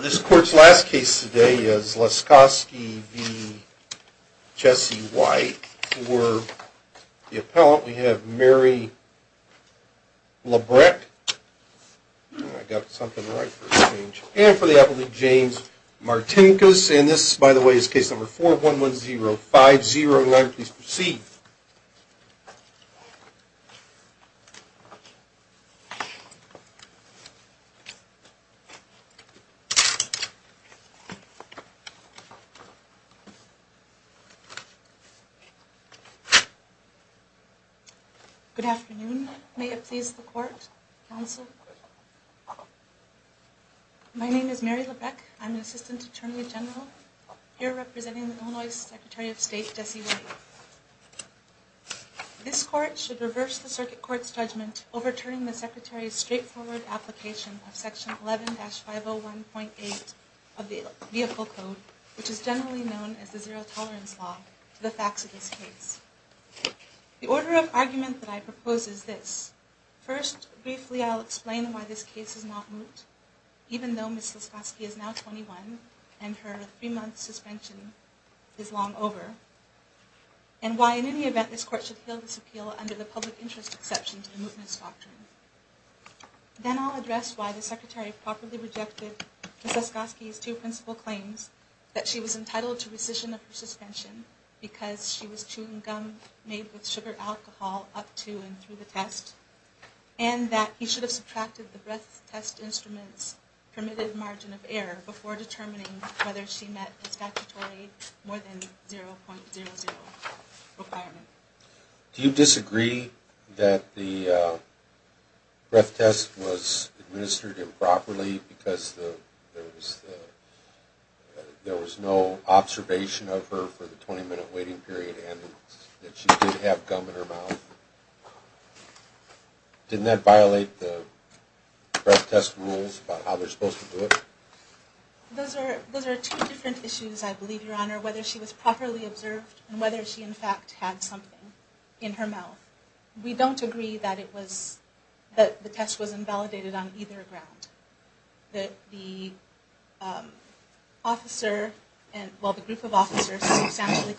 This court's last case today is Leskosky v. Chessy White. For the appellant we have Mary Labreck. I got something right for a change. And for the appellant, James Martinkus. And this, by the way, is case number 411050. Court will now please proceed. Good afternoon. May it please the court, counsel. My name is Mary Labreck. I'm an assistant attorney general here representing the Illinois Secretary of State, Chessy White. This court should reverse the circuit court's judgment overturning the secretary's straightforward application of section 11-501.8 of the Vehicle Code, which is generally known as the Zero Tolerance Law, to the facts of this case. The order of argument that I propose is this. First, briefly I'll explain why this case is not moved. Even though Ms. Leskosky is now 21 and her three-month suspension is long over, and why in any event this court should heal this appeal under the public interest exception to the mootness doctrine. Then I'll address why the secretary properly rejected Ms. Leskosky's two principal claims that she was entitled to rescission of her suspension because she was chewing gum made with sugar alcohol up to and through the test, and that he should have subtracted the breath test instrument's limited margin of error before determining whether she met the statutory more than 0.00 requirement. Do you disagree that the breath test was administered improperly because there was no observation of her for the 20-minute waiting period Didn't that violate the breath test rules about how they're supposed to do it? Those are two different issues, I believe, Your Honor. Whether she was properly observed and whether she in fact had something in her mouth. We don't agree that the test was invalidated on either ground. That the officer, well the group of officers,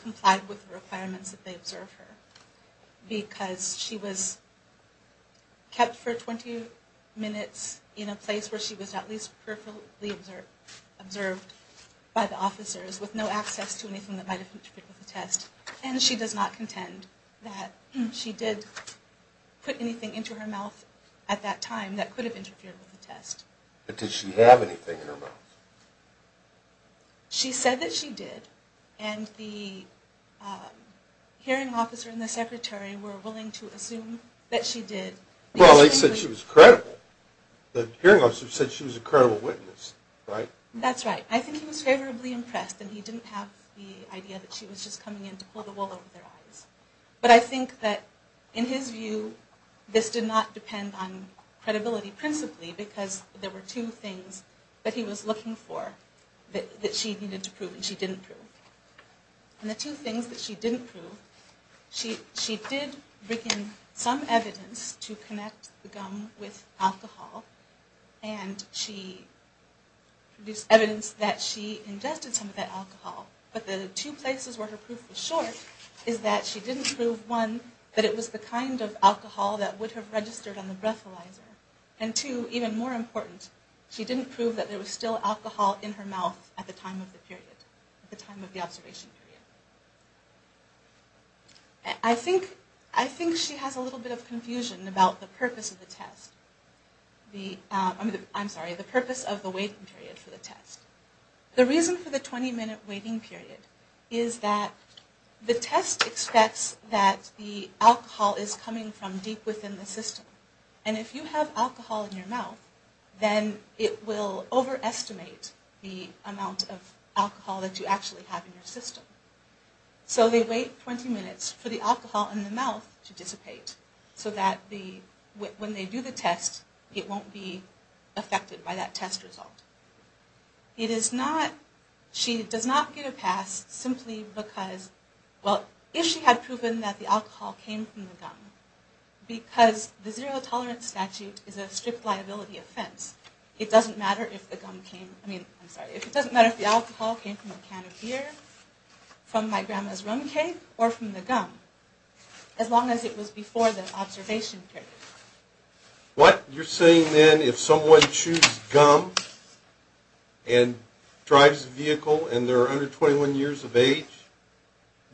complied with the requirements that they observed her because she was kept for 20 minutes in a place where she was at least perfectly observed by the officers with no access to anything that might have interfered with the test. And she does not contend that she did put anything into her mouth at that time that could have interfered with the test. But did she have anything in her mouth? She said that she did. And the hearing officer and the secretary were willing to assume that she did. Well, they said she was credible. The hearing officer said she was a credible witness, right? That's right. I think he was favorably impressed and he didn't have the idea that she was just coming in to pull the wool over their eyes. But I think that in his view this did not depend on credibility principally because there were two things that he was looking for that she needed to prove and she didn't prove. And the two things that she didn't prove, she did bring in some evidence to connect the gum with alcohol and she produced evidence that she ingested some of that alcohol. But the two places where her proof was short is that she didn't prove one, that it was the kind of alcohol that would have registered on the breathalyzer. And two, even more important, she didn't prove that there was still alcohol in her mouth at the time of the period, at the time of the observation period. I think she has a little bit of confusion about the purpose of the test. I'm sorry, the purpose of the waiting period for the test. The reason for the 20-minute waiting period is that the test expects that the alcohol is coming from deep within the system. And if you have alcohol in your mouth, then it will overestimate the amount of alcohol that you actually have in your system. So they wait 20 minutes for the alcohol in the mouth to dissipate so that when they do the test, it won't be affected by that test result. She does not get a pass simply because, well, if she had proven that the alcohol came from the gum, because the zero tolerance statute is a strict liability offense, it doesn't matter if the gum came, I mean, I'm sorry, if it doesn't matter if the alcohol came from a can of beer, from my grandma's rum cake, or from the gum, as long as it was before the observation period. What you're saying then, if someone chews gum and drives a vehicle and they're under 21 years of age,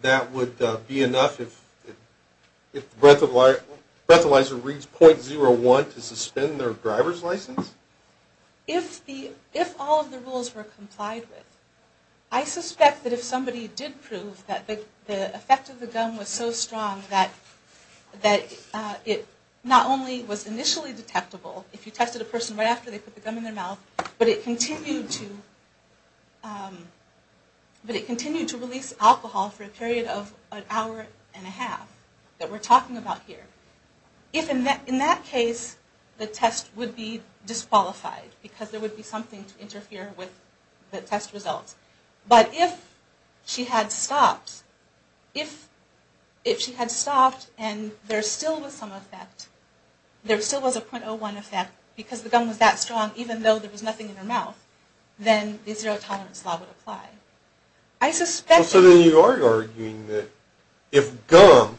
that would be enough if the breathalyzer reads .01 to suspend their driver's license? If all of the rules were complied with, I suspect that if somebody did prove that the effect of the gum was so strong that it not only was initially detectable, if you tested a person right after they put the gum in their mouth, but it continued to release alcohol for a period of an hour and a half, that we're talking about here, in that case, the test would be disqualified because there would be something to interfere with the test results. But if she had stopped, and there still was some effect, there still was a .01 effect because the gum was that strong even though there was nothing in her mouth, then the zero-tolerance law would apply. So then you are arguing that if gum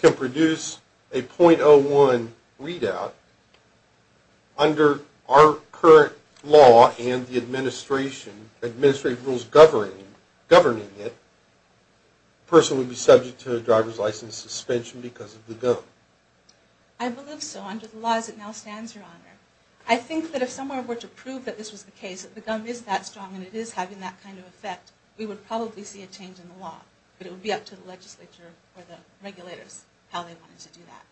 can produce a .01 readout, under our current law and the administrative rules governing it, the person would be subject to a driver's license suspension because of the gum. I believe so. Under the laws, it now stands, Your Honor. I think that if someone were to prove that this was the case, that the gum is that strong and it is having that kind of effect, we would probably see a change in the law, but it would be up to the legislature or the regulators how they wanted to do that.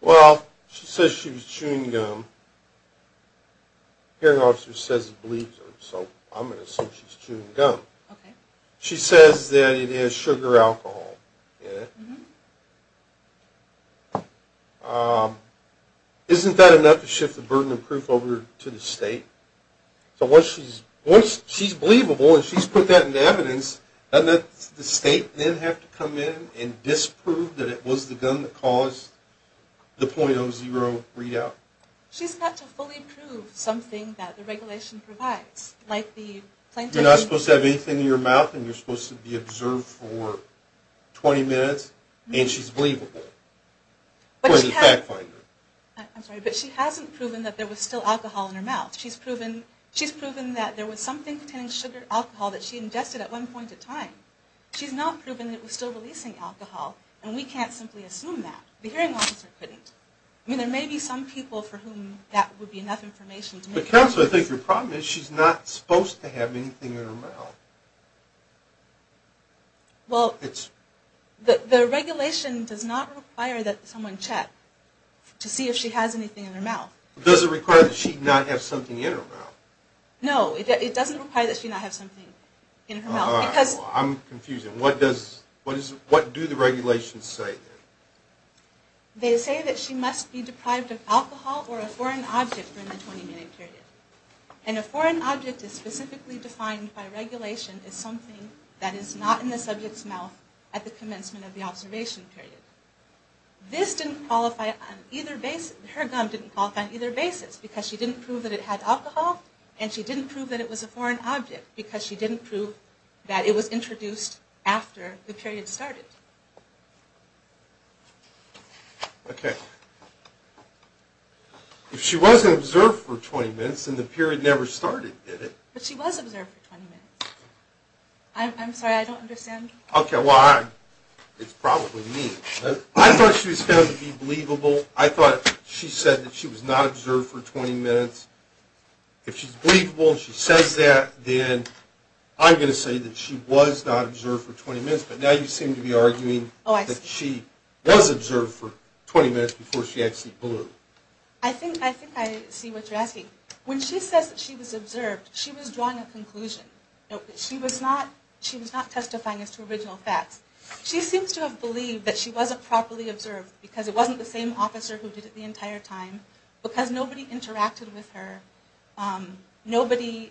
Well, she says she was chewing gum. The hearing officer says he believes her, so I'm going to assume she's chewing gum. She says that it has sugar alcohol in it. Isn't that enough to shift the burden of proof over to the state? So once she's believable and she's put that into evidence, doesn't the state then have to come in and disprove that it was the gum that caused the .00 readout? She's got to fully prove something that the regulation provides. You're not supposed to have anything in your mouth and you're supposed to be observed for 20 minutes, and she's believable? I'm sorry, but she hasn't proven that there was still alcohol in her mouth. She's proven that there was something containing sugar alcohol that she ingested at one point in time. She's not proven that it was still releasing alcohol, and we can't simply assume that. The hearing officer couldn't. There may be some people for whom that would be enough information. But counsel, I think your problem is she's not supposed to have anything in her mouth. Well, the regulation does not require that someone check to see if she has anything in her mouth. Does it require that she not have something in her mouth? No, it doesn't require that she not have something in her mouth. I'm confused. What do the regulations say? They say that she must be deprived of alcohol or a foreign object during the 20-minute period. And a foreign object is specifically defined by regulation as something that is not in the subject's mouth at the commencement of the observation period. This didn't qualify on either basis. Her gum didn't qualify on either basis because she didn't prove that it had alcohol and she didn't prove that it was a foreign object because she didn't prove that it was introduced after the period started. Okay. If she wasn't observed for 20 minutes, then the period never started, did it? But she was observed for 20 minutes. I'm sorry, I don't understand. Okay, well, it's probably me. I thought she was found to be believable. I thought she said that she was not observed for 20 minutes. If she's believable and she says that, then I'm going to say that she was not observed for 20 minutes. But now you seem to be arguing that she was observed for 20 minutes before she actually blew. I think I see what you're asking. When she says that she was observed, she was drawing a conclusion. She was not testifying as to original facts. She seems to have believed that she wasn't properly observed because it wasn't the same officer who did it the entire time, because nobody interacted with her, nobody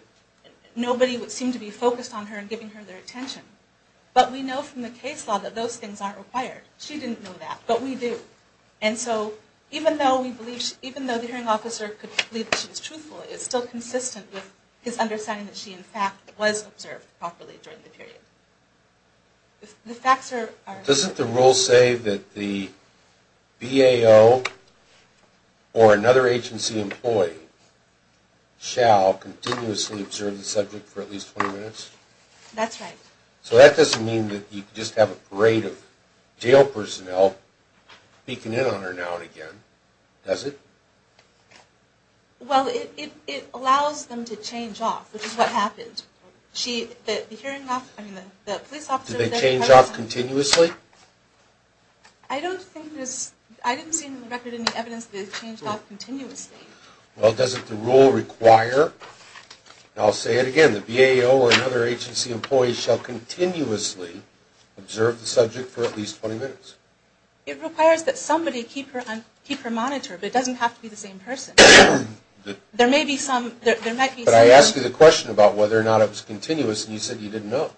seemed to be focused on her and giving her their attention. But we know from the case law that those things aren't required. She didn't know that, but we do. And so even though the hearing officer could believe that she was truthful, it's still consistent with his understanding that she, in fact, was observed properly during the period. The facts are... Doesn't the rule say that the BAO or another agency employee shall continuously observe the subject for at least 20 minutes? That's right. So that doesn't mean that you just have a parade of jail personnel peeking in on her now and again, does it? Well, it allows them to change off, which is what happened. The hearing officer, I mean, the police officer... Did they change off continuously? I don't think this... I didn't see in the record any evidence that they changed off continuously. Well, doesn't the rule require... I'll say it again. The BAO or another agency employee shall continuously observe the subject for at least 20 minutes. It requires that somebody keep her monitored, but it doesn't have to be the same person. There may be some... But I asked you the question about whether or not it was continuous, and you said you didn't know.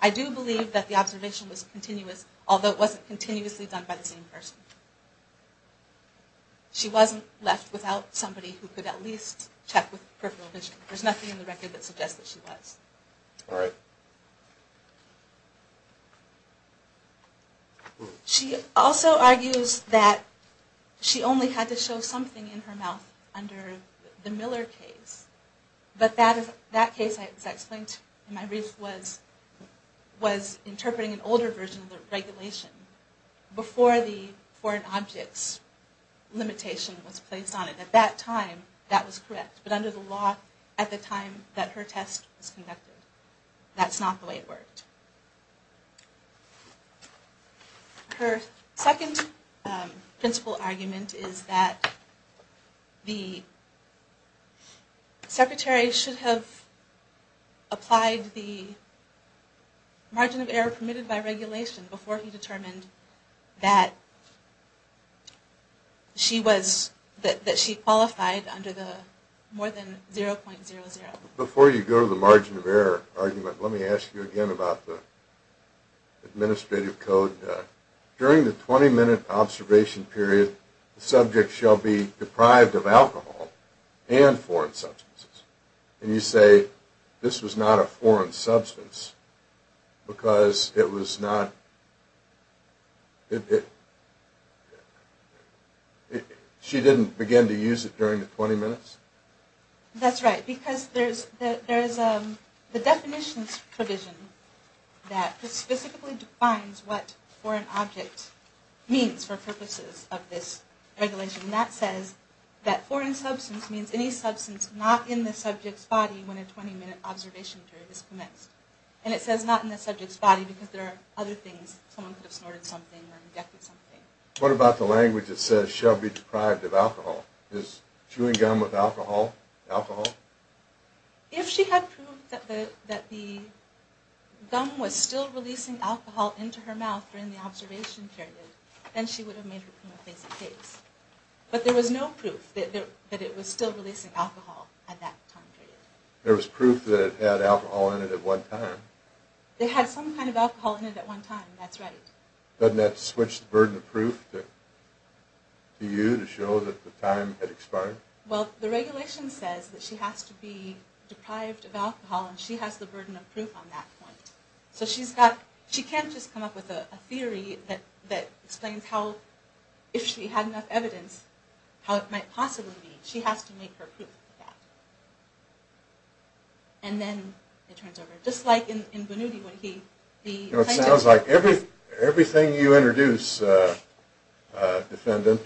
I do believe that the observation was continuous, although it wasn't continuously done by the same person. She wasn't left without somebody who could at least check with peripheral vision. There's nothing in the record that suggests that she was. All right. She also argues that she only had to show something in her mouth under the Miller case. But that case, as I explained in my brief, was interpreting an older version of the regulation before the foreign objects limitation was placed on it. At that time, that was correct. But under the law at the time that her test was conducted, that's not the way it worked. Her second principle argument is that the secretary should have applied the margin of error permitted by regulation before he determined that she qualified under the more than 0.00. Before you go to the margin of error argument, let me ask you again about the administrative code. During the 20-minute observation period, the subject shall be deprived of alcohol and foreign substances. And you say, this was not a foreign substance because it was not... She didn't begin to use it during the 20 minutes? That's right, because there's the definitions provision that specifically defines what foreign object means for purposes of this regulation. And that says that foreign substance means any substance not in the subject's body when a 20-minute observation period is commenced. And it says not in the subject's body because there are other things. Someone could have snorted something or injected something. What about the language that says shall be deprived of alcohol? Is chewing gum with alcohol alcohol? If she had proved that the gum was still releasing alcohol into her mouth during the observation period, then she would have made her puma face a face. But there was no proof that it was still releasing alcohol at that time period. There was proof that it had alcohol in it at one time. It had some kind of alcohol in it at one time, that's right. Doesn't that switch the burden of proof to you to show that the time had expired? Well, the regulation says that she has to be deprived of alcohol and she has the burden of proof on that point. So she can't just come up with a theory that explains how, if she had enough evidence, how it might possibly be. She has to make her proof of that. And then it turns over. Just like in Venuti when he claimed that... It sounds like everything you introduce, defendant,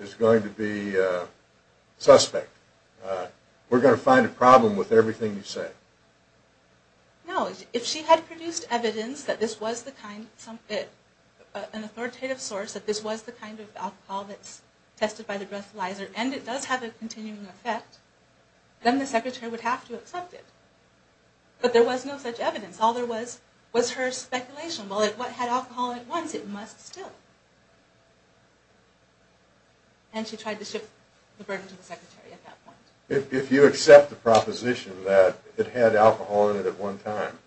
is going to be suspect. We're going to find a problem with everything you say. No, if she had produced evidence that this was an authoritative source, that this was the kind of alcohol that's tested by the breathalyzer and it does have a continuing effect, then the secretary would have to accept it. But there was no such evidence. All there was was her speculation. Well, it had alcohol in it once, it must still. And she tried to shift the burden to the secretary at that point. If you accept the proposition that it had alcohol in it at one time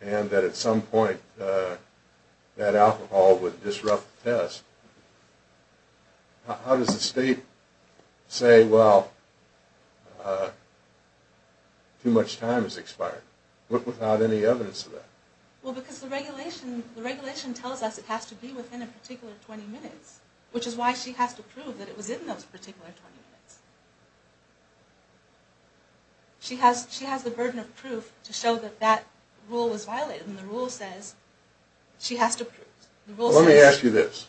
and that at some point that alcohol would disrupt the test, how does the state say, well, too much time has expired, without any evidence of that? Well, because the regulation tells us it has to be within a particular 20 minutes, which is why she has to prove that it was in those particular 20 minutes. She has the burden of proof to show that that rule was violated and the rule says she has to prove it. Well, let me ask you this.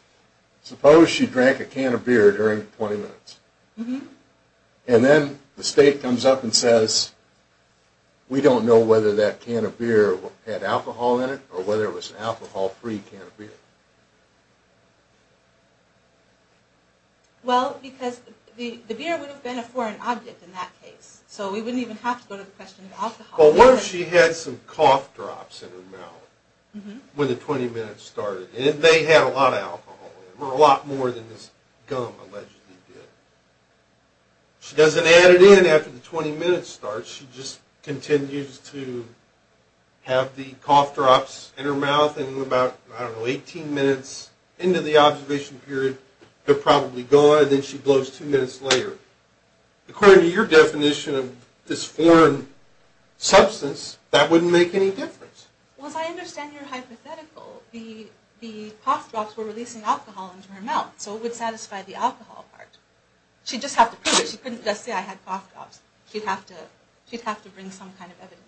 Suppose she drank a can of beer during 20 minutes. And then the state comes up and says, we don't know whether that can of beer had alcohol in it or whether it was an alcohol-free can of beer. Well, because the beer would have been a foreign object in that case, so we wouldn't even have to go to the question of alcohol. But what if she had some cough drops in her mouth when the 20 minutes started? And they had a lot of alcohol in them, a lot more than this gum allegedly did. She doesn't add it in after the 20 minutes starts, but she just continues to have the cough drops in her mouth and about, I don't know, 18 minutes into the observation period, they're probably gone and then she blows two minutes later. According to your definition of this foreign substance, that wouldn't make any difference. Well, as I understand your hypothetical, the cough drops were releasing alcohol into her mouth, so it would satisfy the alcohol part. She'd just have to prove it. She couldn't just say, I had cough drops. She'd have to bring some kind of evidence.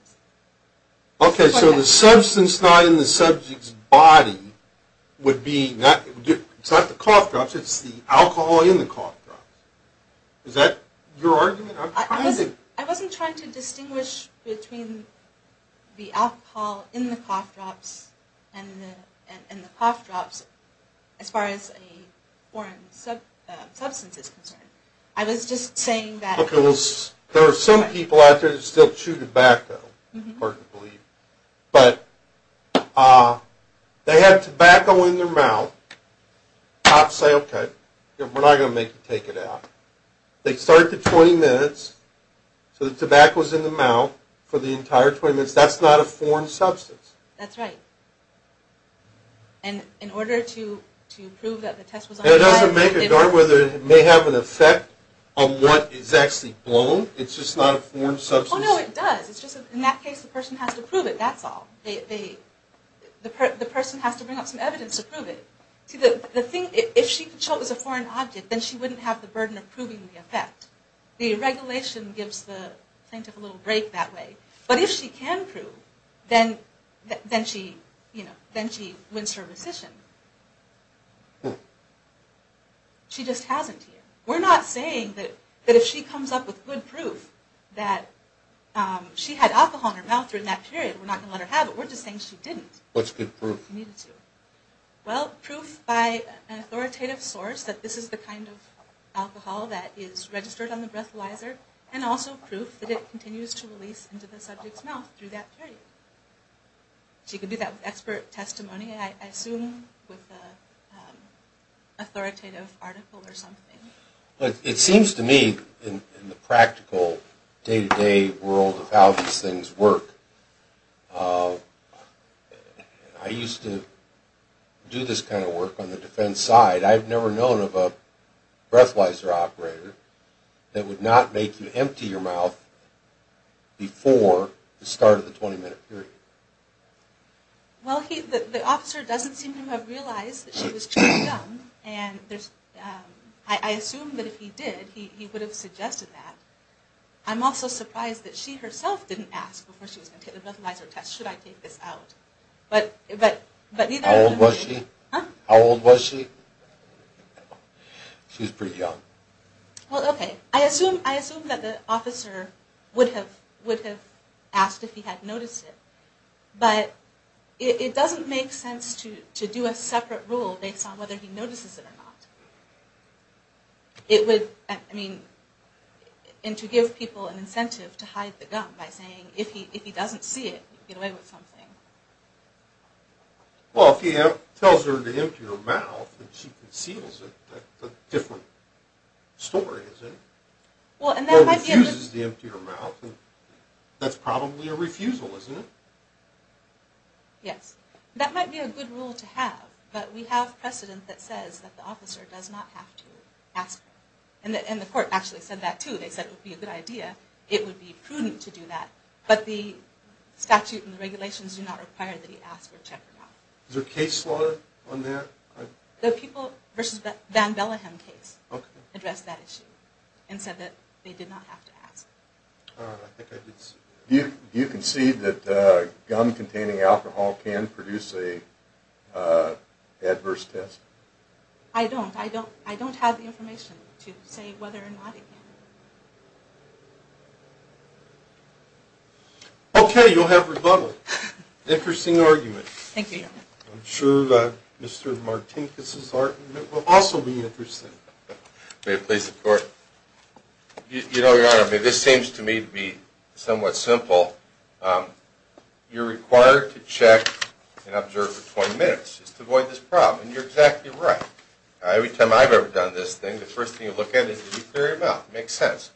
Okay, so the substance not in the subject's body would be, it's not the cough drops, it's the alcohol in the cough drops. Is that your argument? I wasn't trying to distinguish between the alcohol in the cough drops and the cough drops as far as a foreign substance is concerned. I was just saying that. There are some people out there that still chew tobacco, hard to believe, but they had tobacco in their mouth. Cough, say, okay, we're not going to make you take it out. They start the 20 minutes, so the tobacco was in the mouth for the entire 20 minutes. That's not a foreign substance. That's right. And in order to prove that the test was on, it doesn't make a dart whether it may have an effect on what is actually blown. It's just not a foreign substance. Oh, no, it does. It's just in that case the person has to prove it, that's all. The person has to bring up some evidence to prove it. If she could show it was a foreign object, then she wouldn't have the burden of proving the effect. The regulation gives the plaintiff a little break that way. But if she can prove, then she wins her rescission. She just hasn't here. We're not saying that if she comes up with good proof that she had alcohol in her mouth during that period, we're not going to let her have it. We're just saying she didn't. What's good proof? Well, proof by an authoritative source that this is the kind of alcohol that is registered on the breathalyzer, and also proof that it continues to release into the subject's mouth through that period. She could do that with expert testimony, I assume, with an authoritative article or something. It seems to me in the practical day-to-day world of how these things work, I used to do this kind of work on the defense side. I've never known of a breathalyzer operator that would not make you empty your mouth before the start of the 20-minute period. Well, the officer doesn't seem to have realized that she was too young, and I assume that if he did, he would have suggested that. I'm also surprised that she herself didn't ask before she was going to take the breathalyzer test, should I take this out. How old was she? Huh? How old was she? She was pretty young. Well, okay. I assume that the officer would have asked if he had noticed it, but it doesn't make sense to do a separate rule based on whether he notices it or not. It would, I mean, and to give people an incentive to hide the gum by saying, if he doesn't see it, get away with something. Well, if he tells her to empty her mouth and she conceals it, that's a different story, isn't it? Or refuses to empty her mouth, that's probably a refusal, isn't it? Yes. That might be a good rule to have, but we have precedent that says that the officer does not have to ask. And the court actually said that, too. They said it would be a good idea, it would be prudent to do that, but the statute and the regulations do not require that he ask for a check or not. Is there a case law on that? The People v. Van Bellahem case addressed that issue and said that they did not have to ask. Do you concede that gum containing alcohol can produce an adverse test? I don't. I don't have the information to say whether or not it can. Okay, you'll have rebuttal. Interesting argument. Thank you, Your Honor. I'm sure Mr. Martinkus' argument will also be interesting. May it please the Court? You know, Your Honor, this seems to me to be somewhat simple. You're required to check and observe for 20 minutes just to avoid this problem. And you're exactly right. Every time I've ever done this thing, the first thing you look at is your mouth. It makes sense.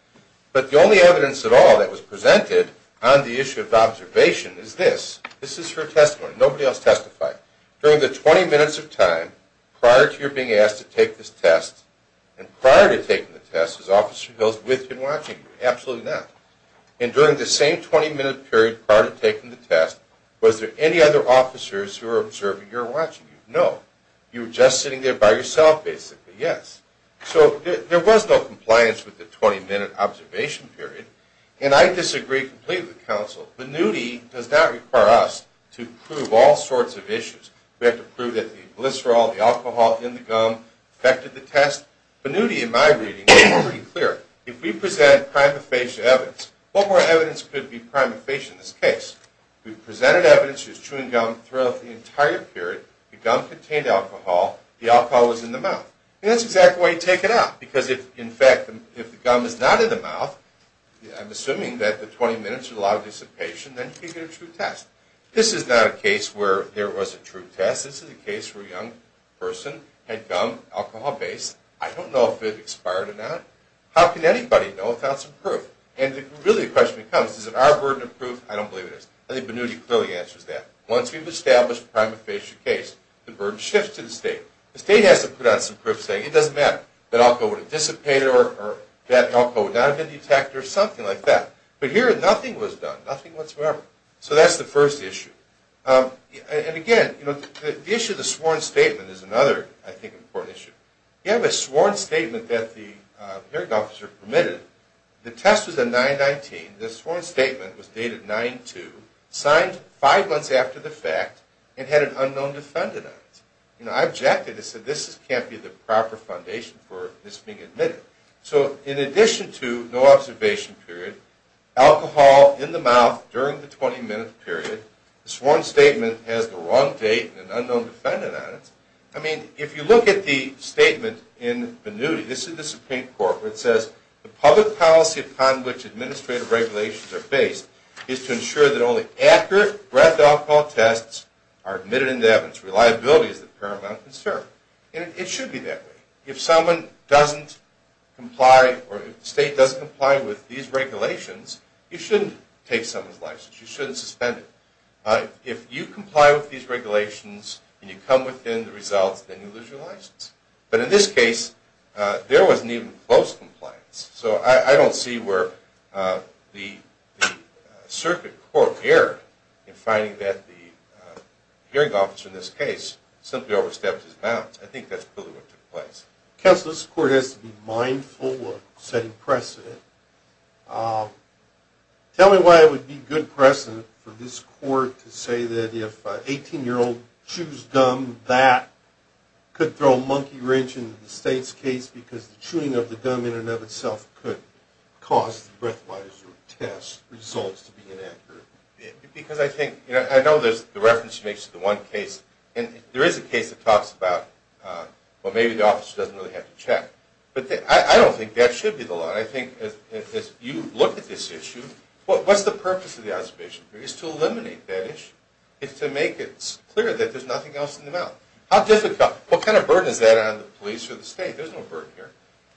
But the only evidence at all that was presented on the issue of observation is this. This is her testimony. Nobody else testified. During the 20 minutes of time prior to your being asked to take this test and prior to taking the test, was Officer Hills with you and watching you? Absolutely not. And during the same 20-minute period prior to taking the test, was there any other officers who were observing or watching you? No. You were just sitting there by yourself, basically? Yes. So there was no compliance with the 20-minute observation period, and I disagree completely with counsel. Venuti does not require us to prove all sorts of issues. We have to prove that the glycerol, the alcohol in the gum, affected the test. Venuti, in my reading, was already clear. If we present prima facie evidence, what more evidence could be prima facie in this case? We presented evidence. She was chewing gum throughout the entire period. The gum contained alcohol. The alcohol was in the mouth. And that's exactly why you take it out. Because, in fact, if the gum is not in the mouth, I'm assuming that the 20 minutes are a lot of dissipation, then you can't get a true test. This is not a case where there was a true test. This is a case where a young person had gum, alcohol-based. I don't know if it expired or not. How can anybody know without some proof? And really the question becomes, is it our burden of proof? I don't believe it is. I think Venuti clearly answers that. Once we've established a prima facie case, the burden shifts to the state. The state has to put on some proof saying it doesn't matter, that alcohol would have dissipated or that alcohol would not have been detected or something like that. But here nothing was done, nothing whatsoever. So that's the first issue. And, again, the issue of the sworn statement is another, I think, important issue. You have a sworn statement that the hearing officer permitted. The test was a 9-19. The sworn statement was dated 9-2, signed five months after the fact, and had an unknown defendant on it. I objected. I said this can't be the proper foundation for this being admitted. So in addition to no observation period, alcohol in the mouth during the 20-minute period, the sworn statement has the wrong date and an unknown defendant on it. I mean, if you look at the statement in Venuti, this is the Supreme Court, where it says the public policy upon which administrative regulations are based is to ensure that only accurate breathed alcohol tests are admitted into evidence. Reliability is the paramount concern. And it should be that way. If someone doesn't comply or if the state doesn't comply with these regulations, you shouldn't take someone's license. You shouldn't suspend it. If you comply with these regulations and you come within the results, then you lose your license. But in this case, there wasn't even close compliance. So I don't see where the circuit court erred in finding that the hearing officer in this case simply overstepped his bounds. I think that's clearly what took place. Counsel, this court has to be mindful of setting precedent. Tell me why it would be good precedent for this court to say that if an 18-year-old chews gum, that could throw a monkey wrench into the state's case because the chewing of the gum in and of itself could cause the breath-wise test results to be inaccurate. Because I think, you know, I know there's the reference you make to the one case, and there is a case that talks about, well, maybe the officer doesn't really have to check. But I don't think that should be the law. I think as you look at this issue, what's the purpose of the observation? It's to eliminate that issue. It's to make it clear that there's nothing else in the mouth. What kind of burden is that on the police or the state? There's no burden here.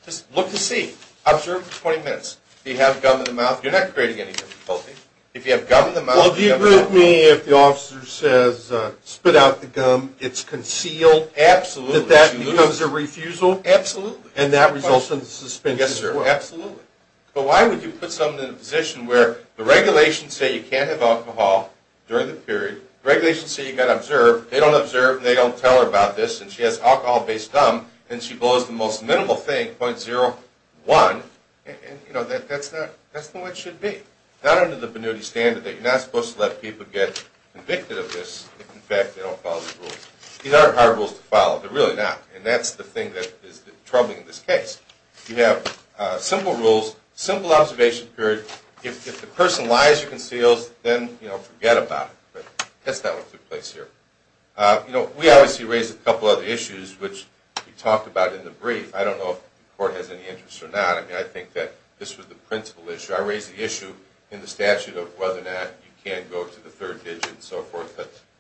Just look to see. Observe for 20 minutes. Do you have gum in the mouth? You're not creating any difficulty. If you have gum in the mouth, you have gum in the mouth. Well, do you agree with me if the officer says, spit out the gum, it's concealed? Absolutely. That that becomes a refusal? Absolutely. And that results in suspension as well? Yes, sir, absolutely. But why would you put someone in a position where the regulations say you can't have alcohol during the period, the regulations say you've got to observe, they don't observe, and they don't tell her about this, and she has alcohol-based gum, and she blows the most minimal thing, .01, and, you know, that's not what it should be. It's not under the Benuti standard that you're not supposed to let people get convicted of this if, in fact, they don't follow the rules. These aren't hard rules to follow. They're really not. And that's the thing that is troubling in this case. You have simple rules, simple observation period. If the person lies or conceals, then, you know, forget about it. But that's not what took place here. You know, we obviously raised a couple other issues, which we talked about in the brief. I don't know if the court has any interest or not. I mean, I think that this was the principal issue. I raised the issue in the statute of whether or not you can go to the third digit and so forth,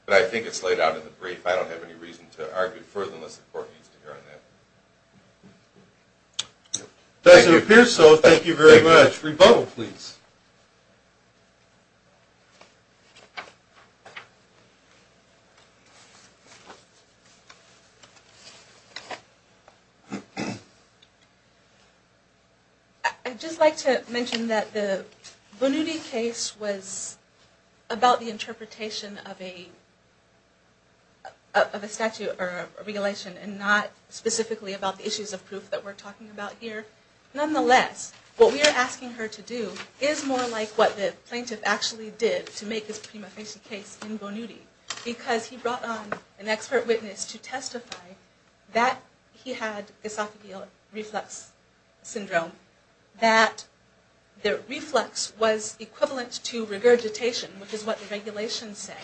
but I think it's laid out in the brief. I don't have any reason to argue further unless the court needs to hear on that. It doesn't appear so. Thank you very much. Rebuttal, please. I'd just like to mention that the Bonudi case was about the interpretation of a statute or a regulation and not specifically about the issues of proof that we're talking about here. Nonetheless, what we are asking her to do is more like what the plaintiff actually did to make this prima facie case in Bonudi because he brought on an expert witness to testify that he had esophageal reflux syndrome, that the reflux was equivalent to regurgitation, which is what the regulations say.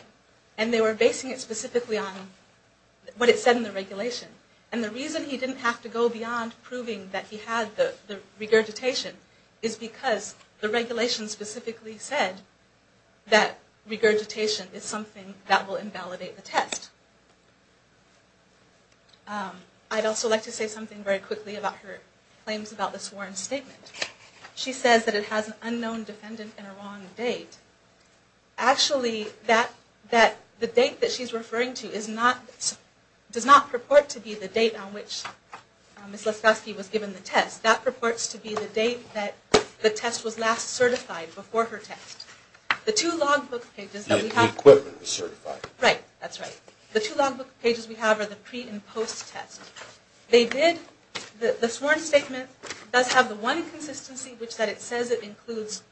And they were basing it specifically on what it said in the regulation. And the reason he didn't have to go beyond proving that he had the regurgitation is because the regulation specifically said that regurgitation is something that will invalidate the test. I'd also like to say something very quickly about her claims about the sworn statement. She says that it has an unknown defendant and a wrong date. Actually, the date that she's referring to does not purport to be the date on which Ms. Leskoski was given the test. That purports to be the date that the test was last certified before her test. The two logbook pages that we have are the pre- and post-test. The sworn statement does have the one consistency, which is that it says it includes,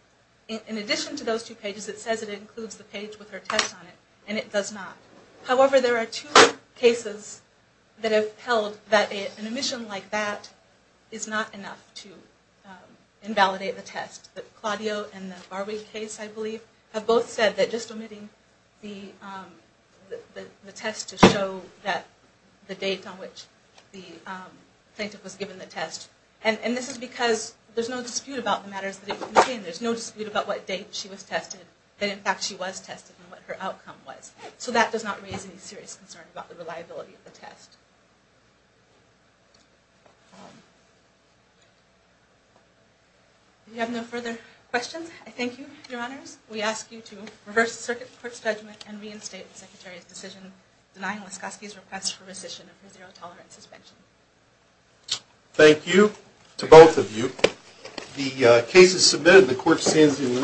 in addition to those two pages, it says it includes the page with her test on it, and it does not. However, there are two cases that have held that an omission like that is not enough to invalidate the test. Claudio and the Barwe case, I believe, have both said that just omitting the test to show the date on which the plaintiff was given the test. And this is because there's no dispute about the matters that it contained. There's no dispute about what date she was tested, that in fact she was tested, and what her outcome was. So that does not raise any serious concern about the reliability of the test. If you have no further questions, I thank you, Your Honors. We ask you to reverse the circuit of the Court's judgment and reinstate the Secretary's decision denying Leskoski's request for rescission of her zero-tolerance suspension. Thank you to both of you. The case is submitted. The Court stands in recess.